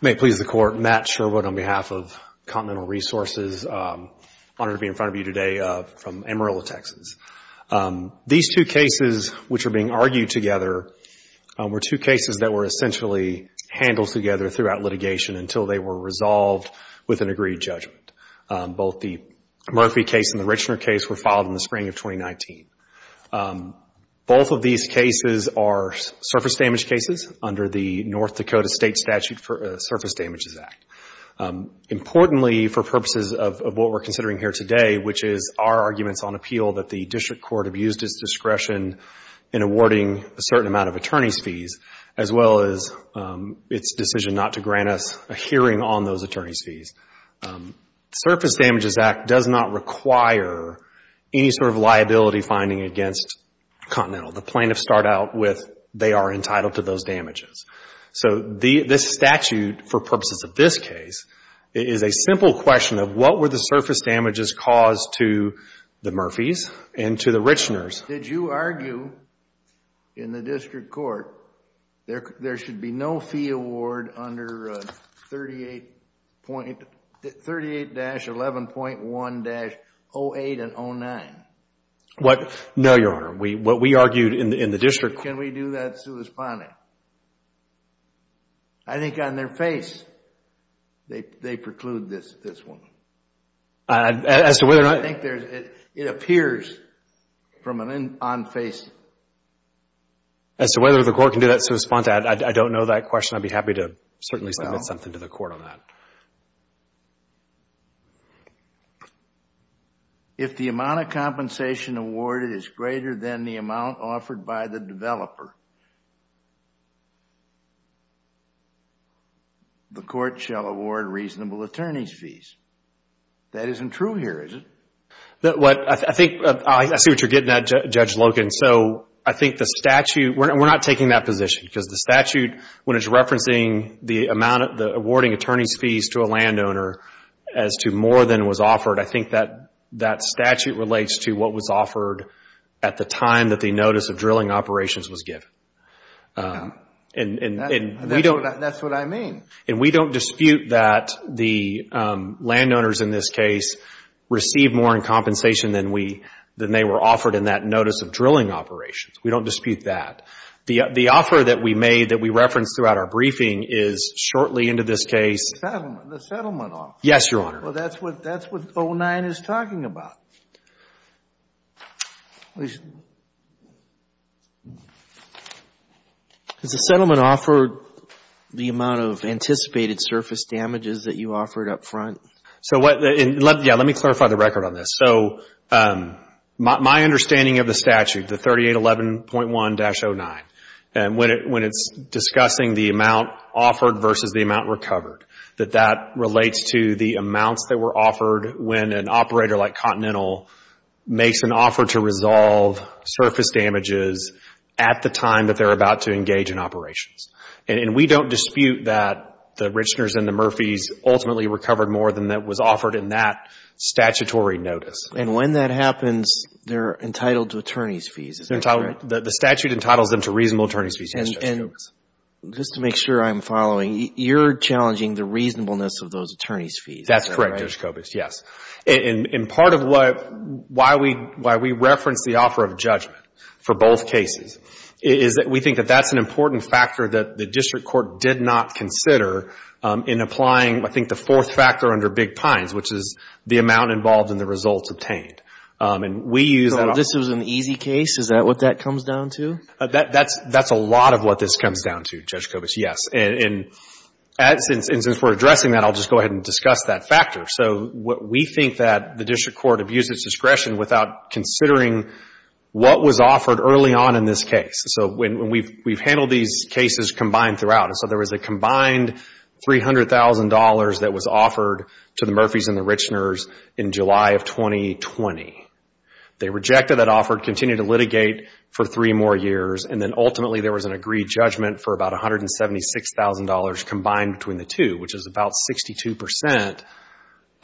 May it please the Court, Matt Sherwood on behalf of Continental Resources. It is an honor to be in front of you today from Amarillo, Texas. These two cases which are being argued together were two cases that were essentially handled together throughout litigation until they were resolved with an agreed judgment. Both the Murphy case and the Richner case were filed in the spring of 2019. Both of these cases are surface damage cases under the North Dakota State Statute for Surface Damages Act, importantly for purposes of what we're considering here today, which is our arguments on appeal that the district court abused its discretion in awarding a certain amount of attorney's fees as well as its decision not to grant us a hearing on those attorney's The Surface Damages Act does not require any sort of liability finding against Continental. The plaintiffs start out with they are entitled to those damages. So this statute, for purposes of this case, is a simple question of what were the surface damages caused to the Murphys and to the Richners? Did you argue in the district court there should be no fee award under 38-11.1-08 and 09? No, Your Honor. What we argued in the district court can we do that sui sponte? I think on their face they preclude this one. As to whether or not I think it appears on face. As to whether the court can do that sui sponte, I don't know that question. I'd be happy to certainly submit something to the court on that. If the amount of compensation awarded is greater than the amount offered by the developer, the court shall award reasonable attorney's fees. That isn't true here, is it? I see what you're getting at, Judge Logan. I think the statute, we're not taking that position because the statute, when it's referencing the awarding attorney's fees to a landowner as to more than was offered, I think that statute relates to what was offered at the time that the notice of drilling operations was given. That's what I mean. We don't dispute that the landowners in this case received more in compensation than they were offered in that notice of drilling operations. We don't dispute that. The offer that we made that we referenced throughout our briefing is shortly into this case. The settlement offer. Yes, Your Honor. Well, that's what 09 is talking about. Has the settlement offered the amount of anticipated surface damages that you offered up front? Yeah, let me clarify the record on this. So my understanding of the statute, the 3811.1-09, when it's discussing the amount offered versus the amount recovered, that that relates to the amounts that were offered when an operator like Continental makes an offer to resolve surface damages at the time that they're about to engage in operations. We don't dispute that the Richners and the Murphys ultimately recovered more than that was offered in that statutory notice. And when that happens, they're entitled to attorney's fees, is that correct? The statute entitles them to reasonable attorney's fees, yes, Judge Kobisch. Just to make sure I'm following, you're challenging the reasonableness of those attorney's fees? That's correct, Judge Kobisch, yes. And part of why we reference the offer of judgment for both cases is that we think that that's an important factor that the district court did not consider in applying, I think, the fourth factor under Big Pines, which is the amount involved in the results obtained. And we use that... So this was an easy case? Is that what that comes down to? That's a lot of what this comes down to, Judge Kobisch, yes. And since we're addressing that, I'll just go ahead and discuss that factor. So we think that the district court abused its discretion without considering what was offered early on in this case. So we've handled these cases combined throughout. So there was a combined $300,000 that was offered to the Murphys and the Richners in July of 2020. They rejected that offer, continued to litigate for three more years, and then ultimately there was an agreed judgment for about $176,000 combined between the two, which is about 62%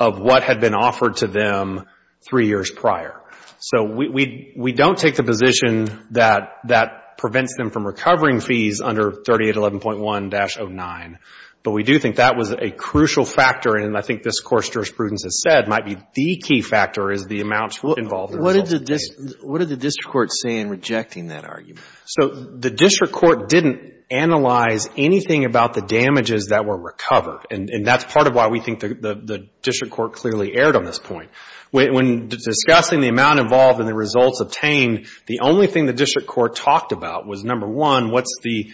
of what had been offered to them three years prior. So we don't take the position that that prevents them from recovering fees under 3811.1-09. But we do think that was a crucial factor, and I think this, of course, jurisprudence has said, might be the key factor is the amounts involved in the results obtained. What did the district court say in rejecting that argument? So the district court didn't analyze anything about the damages that were recovered. And that's part of why we think the district court clearly erred on this point. When discussing the amount involved in the results obtained, the only thing the district court talked about was, number one, what's the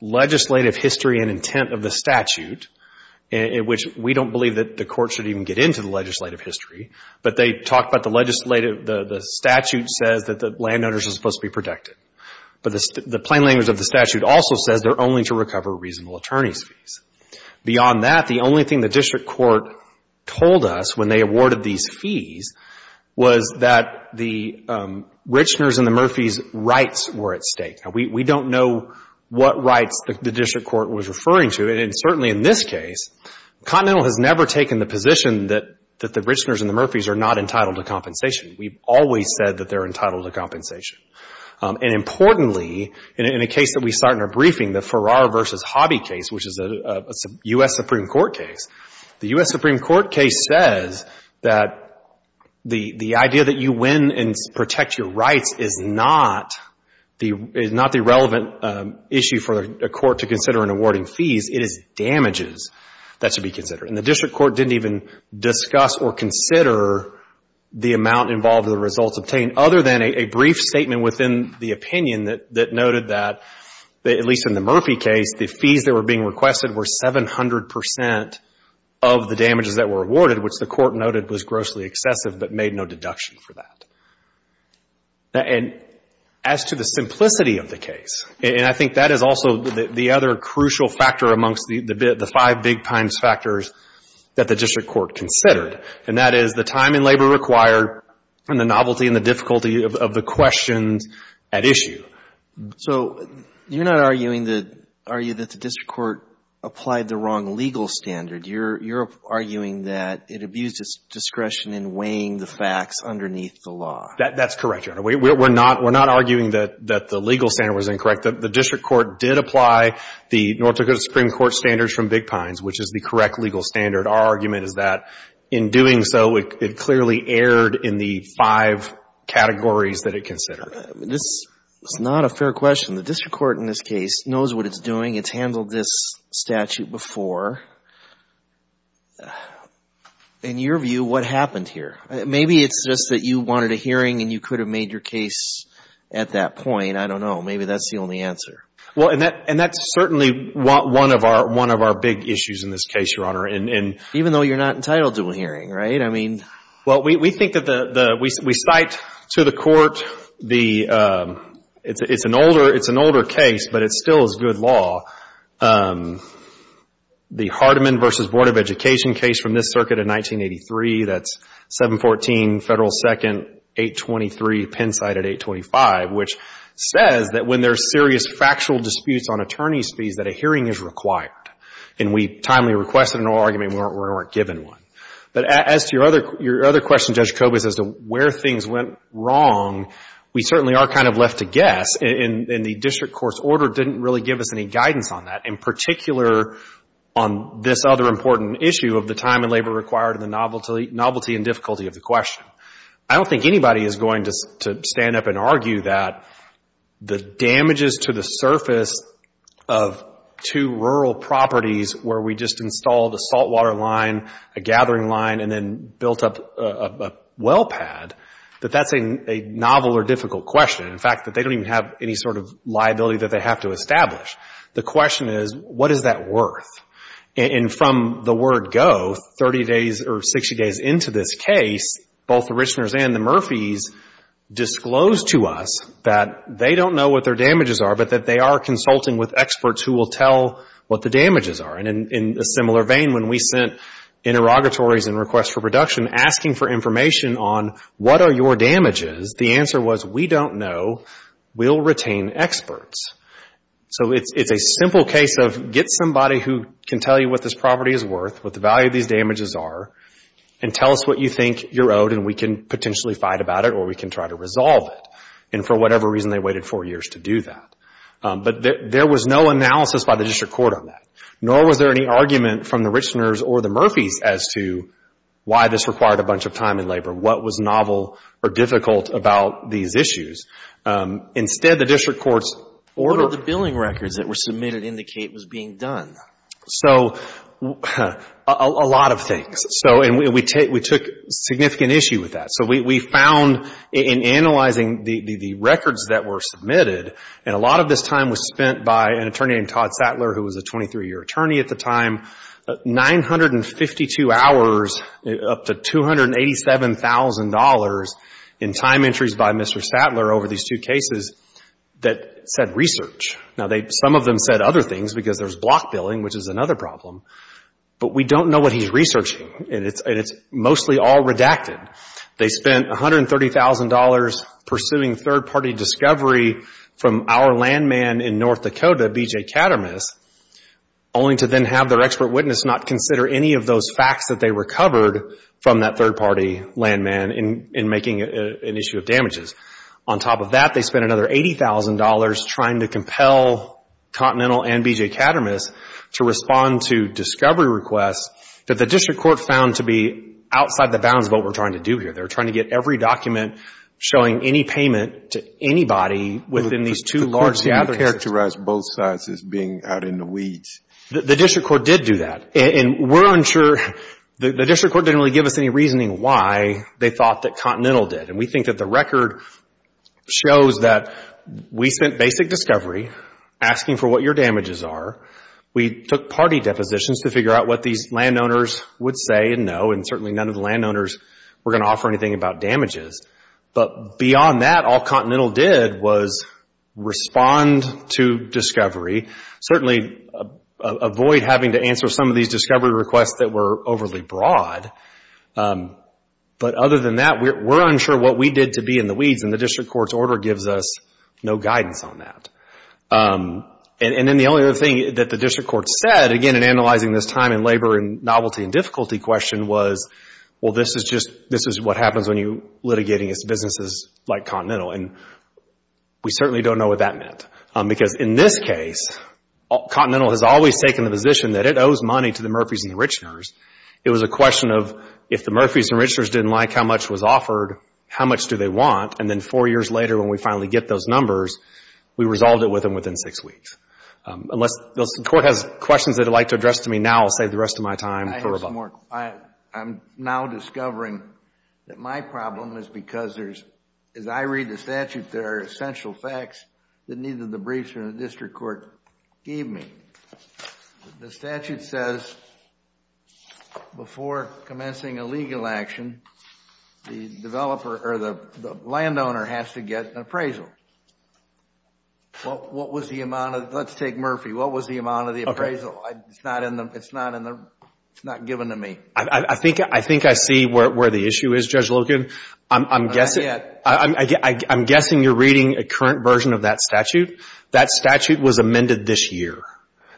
legislative history and intent of the statute, which we don't believe that the court should even get into the legislative history. But they talked about the statute says that the landowners are supposed to be protected. But the plain language of the statute also says they're only to recover reasonable attorney's fees. Beyond that, the only thing the district court told us when they awarded these fees was that the Richners and the Murphys' rights were at stake. We don't know what rights the district court was referring to, and certainly in this case, Continental has never taken the position that the Richners and the Murphys are not entitled to compensation. We've always said that they're entitled to compensation. And importantly, in a case that we start in our briefing, the Farrar v. Hobby case, which is a U.S. Supreme Court case, the U.S. Supreme Court case says that the idea that you win and protect your rights is not the relevant issue for a court to consider in awarding It is damages that should be considered. And the district court didn't even discuss or consider the amount involved in the results obtained other than a brief statement within the opinion that noted that, at least in the Farrar v. Hobby case, the fees that were being requested were 700 percent of the damages that were awarded, which the court noted was grossly excessive but made no deduction for that. And as to the simplicity of the case, and I think that is also the other crucial factor amongst the five big-times factors that the district court considered, and that is the time and labor required and the novelty and the difficulty of the questions at issue. So you're not arguing that the district court applied the wrong legal standard. You're arguing that it abused its discretion in weighing the facts underneath the law. That's correct, Your Honor. We're not arguing that the legal standard was incorrect. The district court did apply the North Dakota Supreme Court standards from Big Pines, which is the correct legal standard. Our argument is that, in doing so, it clearly erred in the five categories that it considered. This is not a fair question. The district court in this case knows what it's doing. It's handled this statute before. In your view, what happened here? Maybe it's just that you wanted a hearing and you could have made your case at that point. I don't know. Maybe that's the only answer. Well, and that's certainly one of our big issues in this case, Your Honor. Even though you're not entitled to a hearing, right? Well, we cite to the court, it's an older case, but it still is good law, the Hardeman v. Board of Education case from this circuit in 1983. That's 714 Federal 2nd, 823 Pennside at 825, which says that when there's serious factual disputes on attorney's fees, that a hearing is required. And we timely requested an oral argument and we weren't given one. But as to your other question, Judge Kobe, as to where things went wrong, we certainly are kind of left to guess. The district court's order didn't really give us any guidance on that, in particular on this other important issue of the time and labor required and the novelty and difficulty of the question. I don't think anybody is going to stand up and argue that the damages to the surface of two rural properties where we just installed a saltwater line, a gathering line, and then built up a well pad, that that's a novel or difficult question. In fact, that they don't even have any sort of liability that they have to establish. The question is, what is that worth? And from the word go, 30 days or 60 days into this case, both the Richners and the Murphys disclosed to us that they don't know what their damages are, but that they are consulting with experts who will tell what the damages are. And in a similar vein, when we sent interrogatories and requests for production asking for information on what are your damages, the answer was, we don't know, we'll retain experts. So it's a simple case of get somebody who can tell you what this property is worth, what the value of these damages are, and tell us what you think you're owed and we can potentially fight about it or we can try to resolve it. And for whatever reason, they waited four years to do that. But there was no analysis by the district court on that, nor was there any argument from the Richners or the Murphys as to why this required a bunch of time and labor, what was novel or difficult about these issues. Instead, the district courts ordered... What did the billing records that were submitted indicate was being done? So a lot of things. So we took significant issue with that. So we found in analyzing the records that were submitted, and a lot of this time was spent by an attorney named Todd Sattler who was a 23-year attorney at the time, 952 hours, up to $287,000 in time entries by Mr. Sattler over these two cases that said research. Now, some of them said other things because there's block billing, which is another problem. But we don't know what he's researching, and it's mostly all redacted. They spent $130,000 pursuing third-party discovery from our landman in North Dakota, B.J. Kattermas, only to then have their expert witness not consider any of those facts that they recovered from that third-party landman in making an issue of damages. On top of that, they spent another $80,000 trying to compel Continental and B.J. Kattermas to respond to discovery requests that the district court found to be outside the bounds of what we're trying to do here. They're trying to get every document showing any payment to anybody within these two large gatherings. The court didn't characterize both sides as being out in the weeds. The district court did do that, and we're unsure. The district court didn't really give us any reasoning why they thought that Continental did. And we think that the record shows that we spent basic discovery asking for what your damages are. We took party depositions to figure out what these landowners would say and know, and certainly none of the landowners were going to offer anything about damages. But beyond that, all Continental did was respond to discovery, certainly avoid having to answer some of these discovery requests that were overly broad. But other than that, we're unsure what we did to be in the weeds, and the district court's order gives us no guidance on that. And then the only other thing that the district court said, again, in analyzing this time and labor and novelty and difficulty question was, well, this is what happens when you're litigating businesses like Continental, and we certainly don't know what that meant. Because in this case, Continental has always taken the position that it owes money to the Murphys and the Richners. It was a question of if the Murphys and the Richners didn't like how much was offered, how much do they want? And then four years later when we finally get those numbers, we resolved it with them within six weeks. Unless the court has questions they'd like to address to me now, I'll save the rest of my time for rebuttal. I have some more. I'm now discovering that my problem is because there's, as I read the statute, there are essential facts that neither the briefs nor the district court gave me. The statute says before commencing a legal action, the developer or the landowner has to get an appraisal. What was the amount of... Let's take Murphy. What was the amount of the appraisal? It's not given to me. I think I see where the issue is, Judge Logan. I'm guessing... Not yet. I'm guessing you're reading a current version of that statute. That statute was amended this year.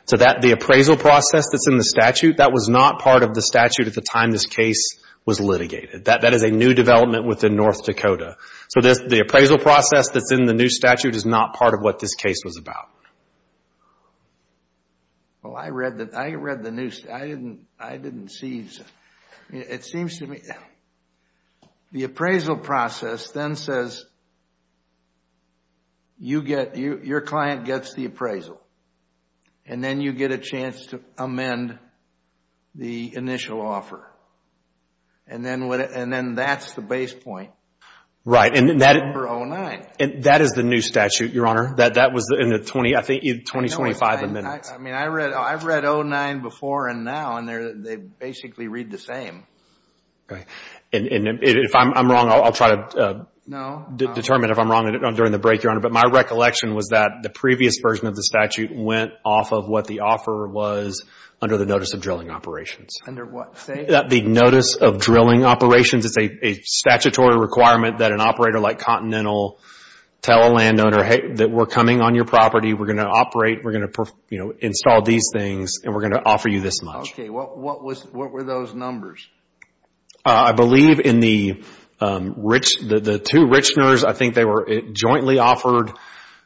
The appraisal process that's in the statute, that was not part of the statute at the time this case was litigated. That is a new development within North Dakota. The appraisal process that's in the new statute is not part of what this case was about. I read the new... I didn't see... It seems to me... The appraisal process then says your client gets the appraisal and then you get a chance to amend the initial offer. Then, that's the base point for 09. That is the new statute, Your Honor. That was in the 20... I think 2025 amendments. I've read 09 before and now and they basically read the same. If I'm wrong, I'll try to determine if I'm wrong during the break, Your Honor. My recollection was that the previous version of the statute went off of what the offer was under the Notice of Drilling Operations. Under what, say? The Notice of Drilling Operations. It's a statutory requirement that an operator like Continental tell a landowner, that we're coming on your property, we're going to operate, we're going to install these things and we're going to offer you this much. Okay. What were those numbers? I believe in the two Richners, I think they were jointly offered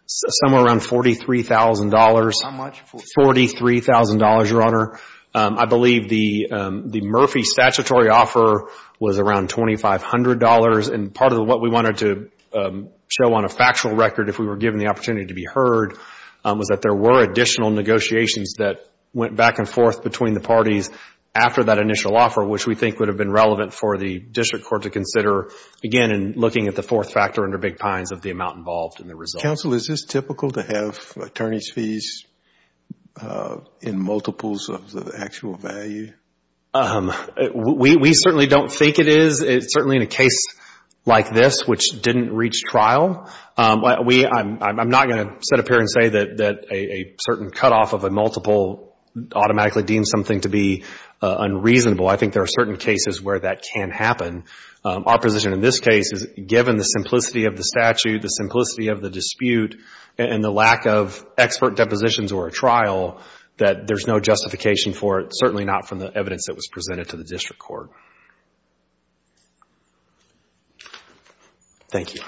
somewhere around $43,000. How much? $43,000, Your Honor. I believe the Murphy statutory offer was around $2,500. Part of what we wanted to show on a factual record, if we were given the opportunity to be heard, was that there were additional negotiations that went back and forth between the parties after that initial offer, which we think would have been relevant for the district court to consider, again, in looking at the fourth factor under Big Pines of the amount involved in the result. Counsel, is this typical to have attorney's fees in multiples of the actual value? We certainly don't think it is. It's certainly in a case like this, which didn't reach trial. I'm not going to sit up here and say that a certain cutoff of a multiple automatically deems something to be unreasonable. I think there are certain cases where that can happen. Our position in this case is, given the simplicity of the statute, the simplicity of the dispute, and the lack of expert depositions or a trial, that there's no justification for it, certainly not from the evidence that was presented to the district court. Thank you.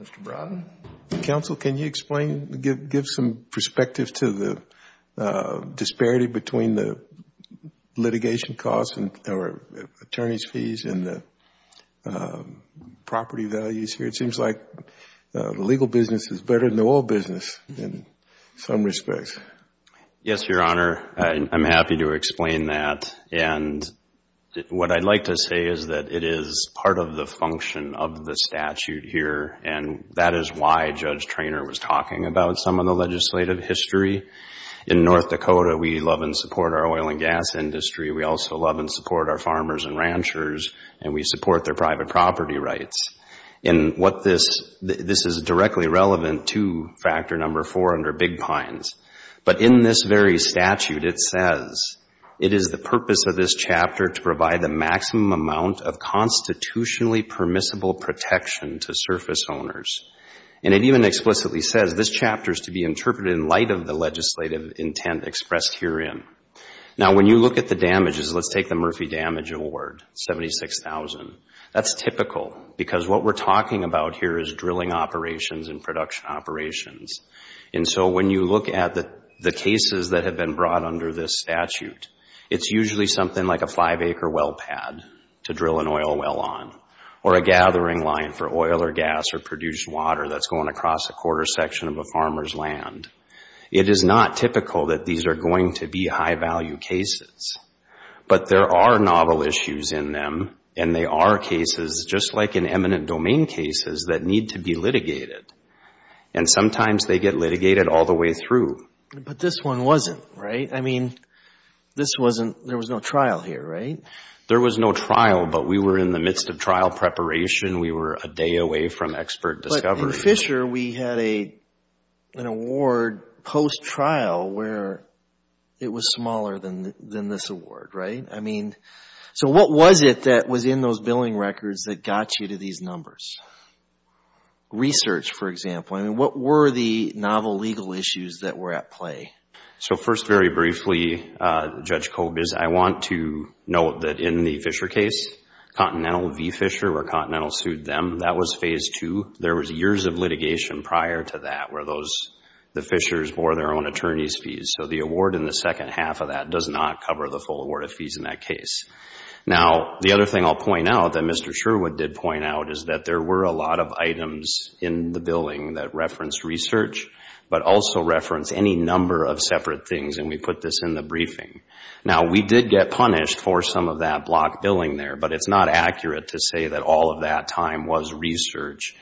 Mr. Brodin? Counsel, can you explain, give some perspective to the disparity between the litigation costs or attorney's fees and the property values here? It seems like the legal business is better than the oil business in some respects. Yes, Your Honor. I'm happy to explain that. What I'd like to say is that it is part of the function of the statute here, and that is why Judge Treanor was talking about some of the legislative history. In North Dakota, we love and support our oil and gas industry. We also love and support our farmers and ranchers, and we support their private property rights. This is directly relevant to Factor No. 4 under Big Pines, but in this very statute, it says, it is the purpose of this chapter to provide the maximum amount of constitutionally permissible protection to surface owners, and it even explicitly says, this chapter is to be interpreted in light of the legislative intent expressed herein. Now, when you look at the damages, let's take the Murphy Damage Award, $76,000. That's typical, because what we're talking about here is drilling operations and production operations, and so when you look at the cases that have been brought under this statute, it's usually something like a five-acre well pad to drill an oil well on, or a gathering line for oil or gas or produced water that's going across a quarter section of a farmer's land. It is not typical that these are going to be high-value cases, but there are novel issues in them, and they are cases, just like in eminent domain cases, that need to be litigated, and sometimes they get litigated all the way through. But this one wasn't, right? I mean, this wasn't, there was no trial here, right? There was no trial, but we were in the midst of trial preparation. We were a day away from expert discovery. But in Fisher, we had an award post-trial where it was smaller than this award, right? I mean, so what was it that was in those billing records that got you to these numbers? Research, for example, I mean, what were the novel legal issues that were at play? So first, very briefly, Judge Kobes, I want to note that in the Fisher case, Continental v. Fisher, where Continental sued them, that was phase two. There was years of litigation prior to that where the Fishers bore their own attorney's fees. So the award in the second half of that does not cover the full award of fees in that case. Now, the other thing I'll point out that Mr. Sherwood did point out is that there were a lot of items in the billing that referenced research, but also referenced any number of separate things, and we put this in the briefing. Now, we did get punished for some of that block billing there, but it's not accurate to say that all of that time was research.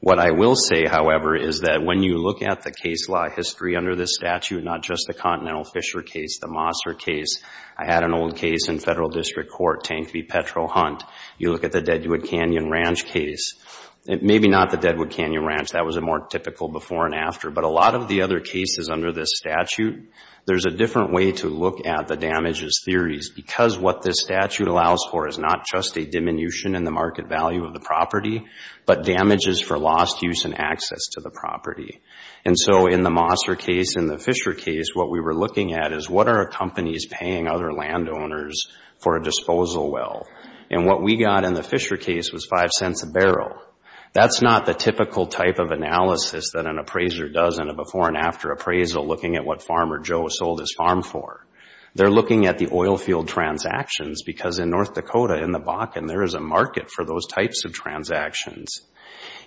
What I will say, however, is that when you look at the case law history under this statute, not just the Continental Fisher case, the Mosser case, I had an old case in Federal District Court, Tank v. Petro-Hunt, you look at the Deadwood Canyon Ranch case, maybe not the Deadwood Canyon Ranch, that was a more typical before and after, but a lot of the other cases under this statute, there's a different way to look at the damages theories because what this statute allows for is not just a diminution in the market value of the property, but damages for lost use and access to the property. And so, in the Mosser case, in the Fisher case, what we were looking at is what are companies paying other landowners for a disposal well? And what we got in the Fisher case was five cents a barrel. That's not the typical type of analysis that an appraiser does in a before and after appraisal looking at what Farmer Joe sold his farm for. They're looking at the oil field transactions because in North Dakota, in the Bakken, there is a market for those types of transactions.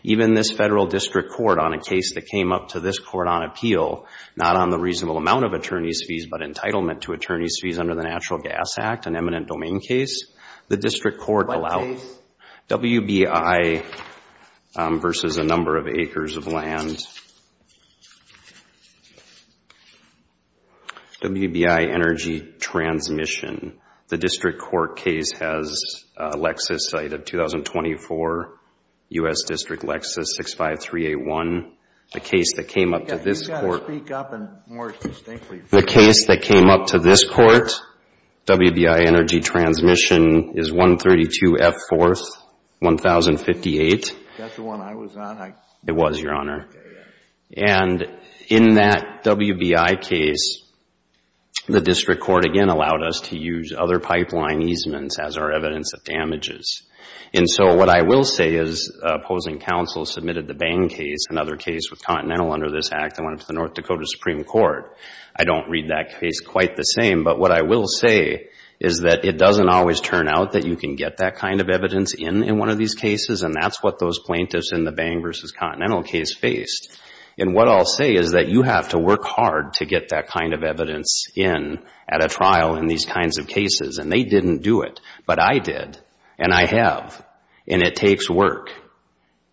Even this federal district court on a case that came up to this court on appeal, not on the reasonable amount of attorney's fees, but entitlement to attorney's fees under the Natural Gas Act, an eminent domain case, the district court allowed WBI versus a number of acres of land, WBI energy transmission. The district court case has a Lexus site of 2024, U.S. District Lexus 65381. The case that came up to this court, WBI energy transmission is 132F 4th, 1058. That's the one I was on? It was, Your Honor. In that WBI case, the district court again allowed us to use other pipeline easements as our evidence of damages. What I will say is opposing counsel submitted the Bang case, another case with Continental under this act that went up to the North Dakota Supreme Court. I don't read that case quite the same, but what I will say is that it doesn't always turn out that you can get that kind of evidence in in one of these cases, and that's what those plaintiffs in the Bang versus Continental case faced. What I'll say is that you have to work hard to get that kind of evidence in at a trial in these kinds of cases, and they didn't do it, but I did, and I have, and it takes work.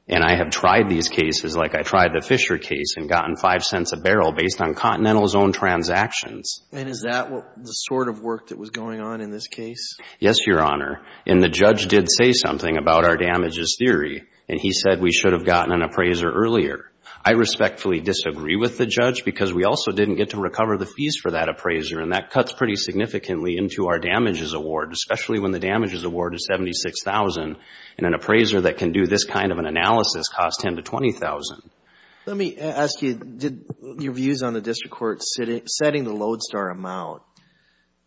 I have tried these cases like I tried the Fisher case and gotten five cents a barrel based on Continental's own transactions. Is that the sort of work that was going on in this case? Yes, Your Honor. And the judge did say something about our damages theory, and he said we should have gotten an appraiser earlier. I respectfully disagree with the judge because we also didn't get to recover the fees for that appraiser, and that cuts pretty significantly into our damages award, especially when the damages award is $76,000, and an appraiser that can do this kind of an analysis costs $10,000 to $20,000. Let me ask you, did your views on the district court setting the Lodestar amount,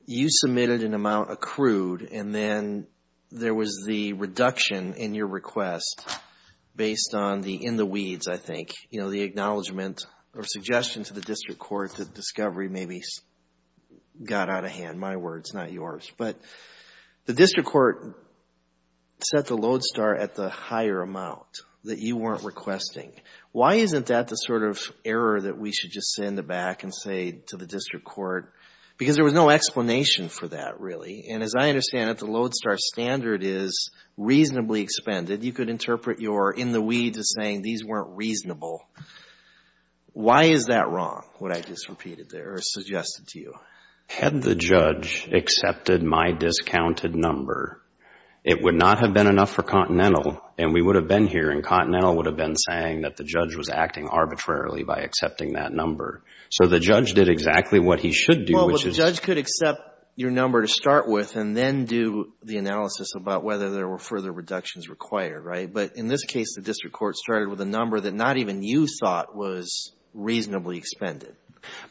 you submitted an amount accrued, and then there was the reduction in your request based on the in the weeds, I think, you know, the acknowledgment or suggestion to the district court that discovery maybe got out of hand, my words, not yours. But the district court set the Lodestar at the higher amount that you weren't requesting. Why isn't that the sort of error that we should just sit in the back and say to the district court, because there was no explanation for that really, and as I understand it, the Lodestar standard is reasonably expended. You could interpret your in the weeds as saying these weren't reasonable. Why is that wrong, what I just repeated there or suggested to you? Had the judge accepted my discounted number, it would not have been enough for Continental, and we would have been here, and Continental would have been saying that the judge was acting arbitrarily by accepting that number. So the judge did exactly what he should do, which is... Well, the judge could accept your number to start with and then do the analysis about whether there were further reductions required, right? But in this case, the district court started with a number that not even you thought was reasonably expended.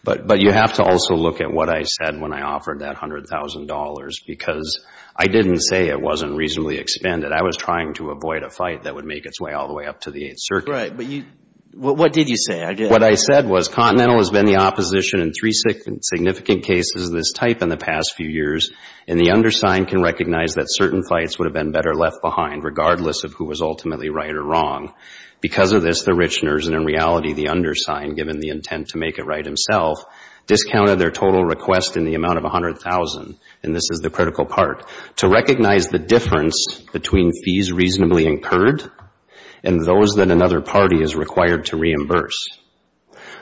But you have to also look at what I said when I offered that $100,000 because I didn't say it wasn't reasonably expended. I was trying to avoid a fight that would make its way all the way up to the Eighth Circuit. Right. But what did you say? What I said was Continental has been the opposition in three significant cases of this type in the past few years, and the undersigned can recognize that certain fights would have been better left behind regardless of who was ultimately right or wrong. Because of this, the Richners, and in reality, the undersigned, given the intent to make it right himself, discounted their total request in the amount of $100,000, and this is the critical part, to recognize the difference between fees reasonably incurred and those that another party is required to reimburse.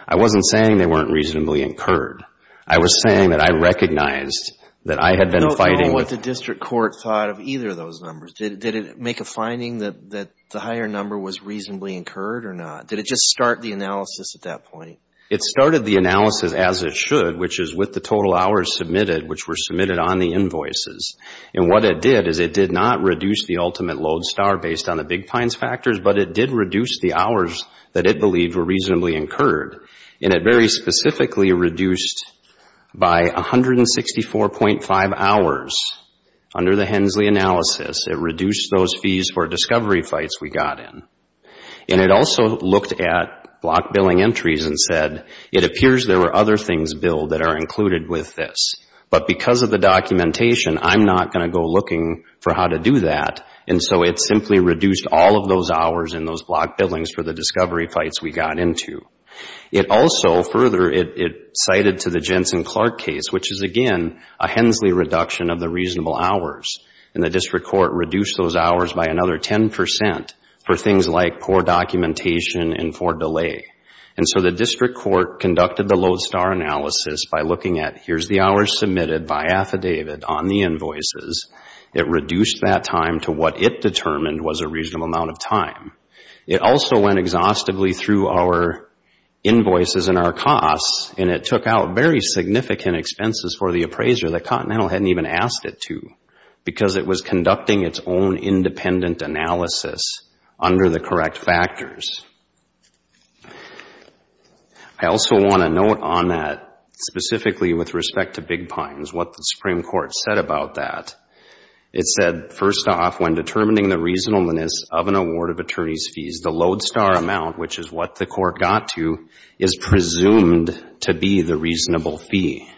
I wasn't saying they weren't reasonably incurred. I was saying that I recognized that I had been fighting with I don't know what the district court thought of either of those numbers. Did it make a finding that the higher number was reasonably incurred or not? Did it just start the analysis at that point? It started the analysis as it should, which is with the total hours submitted, which were submitted on the invoices. And what it did is it did not reduce the ultimate load star based on the Big Pines factors, but it did reduce the hours that it believed were reasonably incurred. And it very specifically reduced by 164.5 hours under the Hensley analysis. It reduced those fees for discovery fights we got in. And it also looked at block billing entries and said, it appears there were other things billed that are included with this. But because of the documentation, I'm not going to go looking for how to do that. And so it simply reduced all of those hours in those block billings for the discovery fights we got into. It also further, it cited to the Jensen-Clark case, which is again a Hensley reduction of the reasonable hours, and the district court reduced those hours by another 10% for things like poor documentation and for delay. And so the district court conducted the load star analysis by looking at here's the hours submitted by affidavit on the invoices. It reduced that time to what it determined was a reasonable amount of time. It also went exhaustively through our invoices and our costs, and it took out very significant expenses for the appraiser that Continental hadn't even asked it to, because it was conducting its own independent analysis under the correct factors. I also want to note on that, specifically with respect to Big Pines, what the Supreme Court said about that. It said, first off, when determining the reasonableness of an award of attorney's fees, the load star amount, which is what the court got to, is presumed to be the reasonable fee.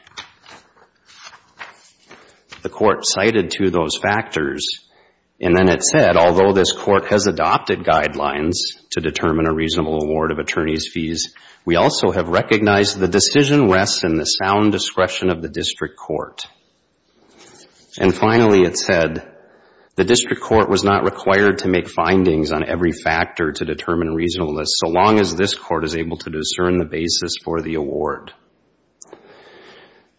The court cited to those factors, and then it said, although this court has adopted guidelines to determine a reasonable award of attorney's fees, we also have recognized the decision rests in the sound discretion of the district court. And finally, it said, the district court was not required to make findings on every factor to determine reasonableness, so long as this court is able to discern the basis for the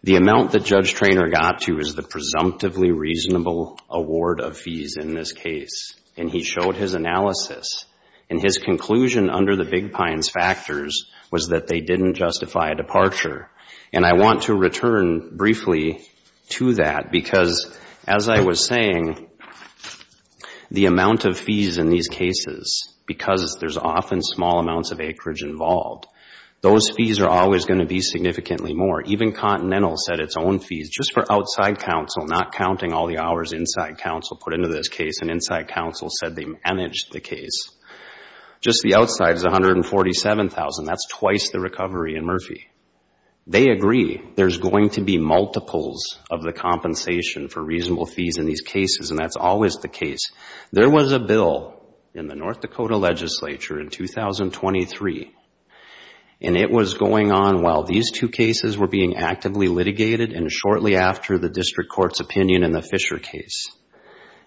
The amount that Judge Treanor got to is the presumptively reasonable award of fees in this case, and he showed his analysis, and his conclusion under the Big Pines factors was that they didn't justify a departure. And I want to return briefly to that, because as I was saying, the amount of fees in these cases, because there's often small amounts of acreage involved, those fees are always going to be significantly more. Even Continental set its own fees, just for outside counsel, not counting all the hours inside counsel put into this case, and inside counsel said they managed the case. Just the outside is $147,000, that's twice the recovery in Murphy. They agree there's going to be multiples of the compensation for reasonable fees in these cases, and that's always the case. There was a bill in the North Dakota legislature in 2023, and it was going on while these two cases were being actively litigated, and shortly after the district court's opinion in the Fisher case.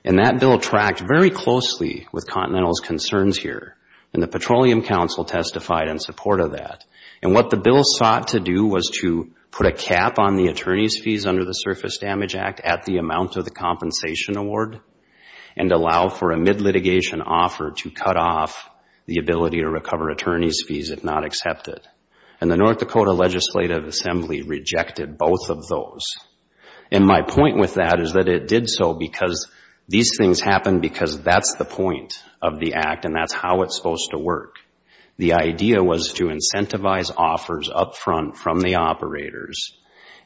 And that bill tracked very closely with Continental's concerns here, and the Petroleum Council testified in support of that. And what the bill sought to do was to put a cap on the attorney's fees under the Surface Damage Act at the amount of the compensation award, and allow for a mid-litigation offer to cut off the ability to recover attorney's fees if not accepted. And the North Dakota Legislative Assembly rejected both of those. And my point with that is that it did so because these things happen because that's the point of the act, and that's how it's supposed to work. The idea was to incentivize offers up front from the operators,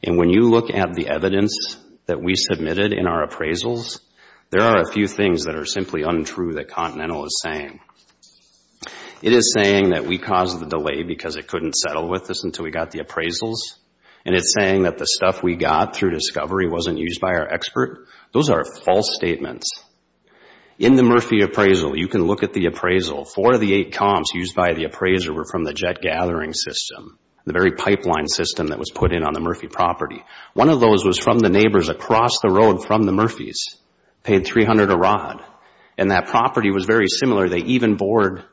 and when you look at the evidence that we submitted in our appraisals, there are a few things that are simply untrue that Continental is saying. It is saying that we caused the delay because it couldn't settle with us until we got the appraisals, and it's saying that the stuff we got through discovery wasn't used by our expert. Those are false statements. In the Murphy appraisal, you can look at the appraisal, four of the eight comps used by the appraiser were from the jet gathering system, the very pipeline system that was put in on the Murphy property. One of those was from the neighbors across the road from the Murphys, paid $300 a rod, and that property was very similar. They even board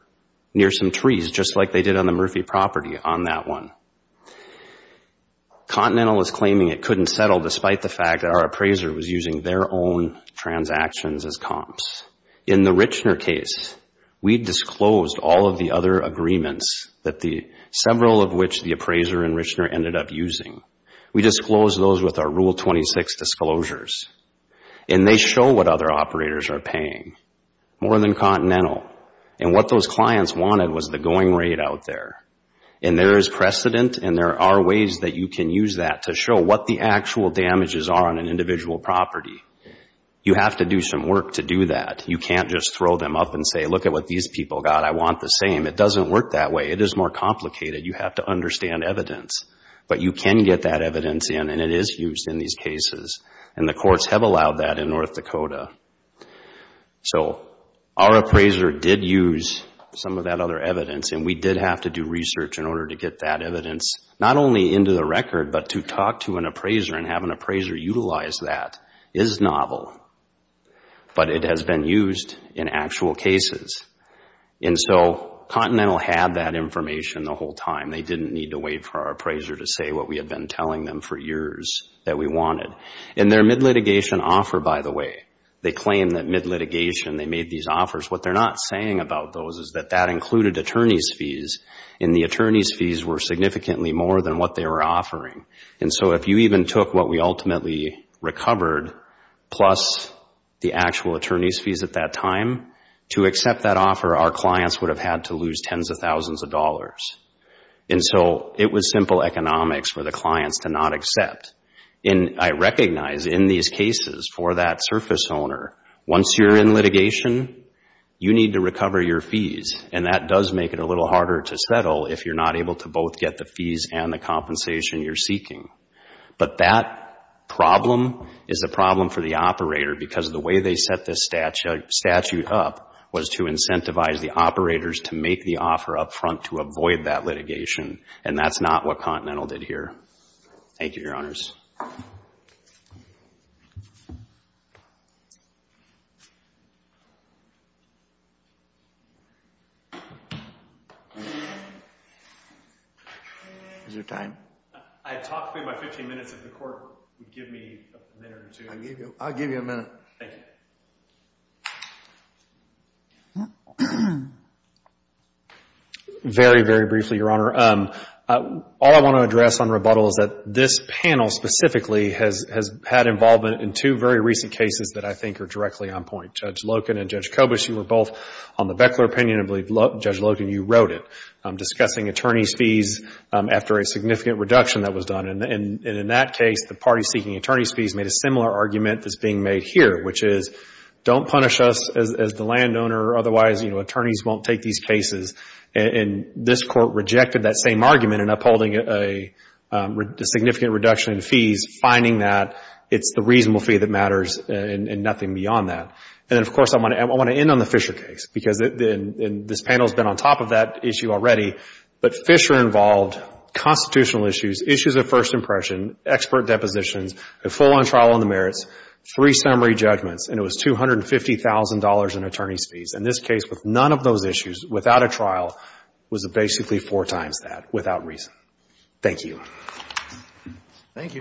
near some trees just like they did on the Murphy property on that one. Continental is claiming it couldn't settle despite the fact that our appraiser was using their own transactions as comps. In the Richner case, we disclosed all of the other agreements, several of which the appraiser and Richner ended up using. We disclosed those with our Rule 26 disclosures, and they show what other operators are paying. More than Continental. And what those clients wanted was the going rate out there. And there is precedent, and there are ways that you can use that to show what the actual damages are on an individual property. You have to do some work to do that. You can't just throw them up and say, look at what these people got. I want the same. It doesn't work that way. It is more complicated. You have to understand evidence. But you can get that evidence in, and it is used in these cases. And the courts have allowed that in North Dakota. So our appraiser did use some of that other evidence, and we did have to do research in order to get that evidence, not only into the record, but to talk to an appraiser and have an appraiser utilize that is novel. But it has been used in actual cases. And so Continental had that information the whole time. They didn't need to wait for our appraiser to say what we had been telling them for years that we wanted. In their mid-litigation offer, by the way, they claim that mid-litigation they made these offers. What they're not saying about those is that that included attorney's fees, and the attorney's fees were significantly more than what they were offering. And so if you even took what we ultimately recovered, plus the actual attorney's fees at that time, to accept that offer, our clients would have had to lose tens of thousands of dollars. And so it was simple economics for the clients to not accept. I recognize in these cases for that surface owner, once you're in litigation, you need to recover your fees, and that does make it a little harder to settle if you're not able to both get the fees and the compensation you're seeking. But that problem is a problem for the operator, because the way they set this statute up was to incentivize the operators to make the offer up front to avoid that litigation. And that's not what Continental did here. Thank you, Your Honors. Is there time? I talked through my 15 minutes. If the court would give me a minute or two. I'll give you a minute. Thank you. Very, very briefly, Your Honor. All I want to address on rebuttal is that this panel specifically has had involvement in two very recent cases that I think are directly on point. Judge Loken and Judge Kobush, you were both on the Beckler opinion, and Judge Loken, you wrote it, discussing attorney's fees after a significant reduction that was done. And in that case, the party seeking attorney's fees made a similar argument that's being made here, which is, don't punish us as the landowner. Otherwise, attorneys won't take these cases. And this court rejected that same argument in upholding a significant reduction in fees, finding that it's the reasonable fee that matters and nothing beyond that. And of course, I want to end on the Fisher case, because this panel has been on top of that issue already. But Fisher involved constitutional issues, issues of first impression, expert depositions, a full-on trial on the merits, three summary judgments, and it was $250,000 in attorney's fees. And this case, with none of those issues, without a trial, was basically four times that, without reason. Thank you. Thank you, counsel.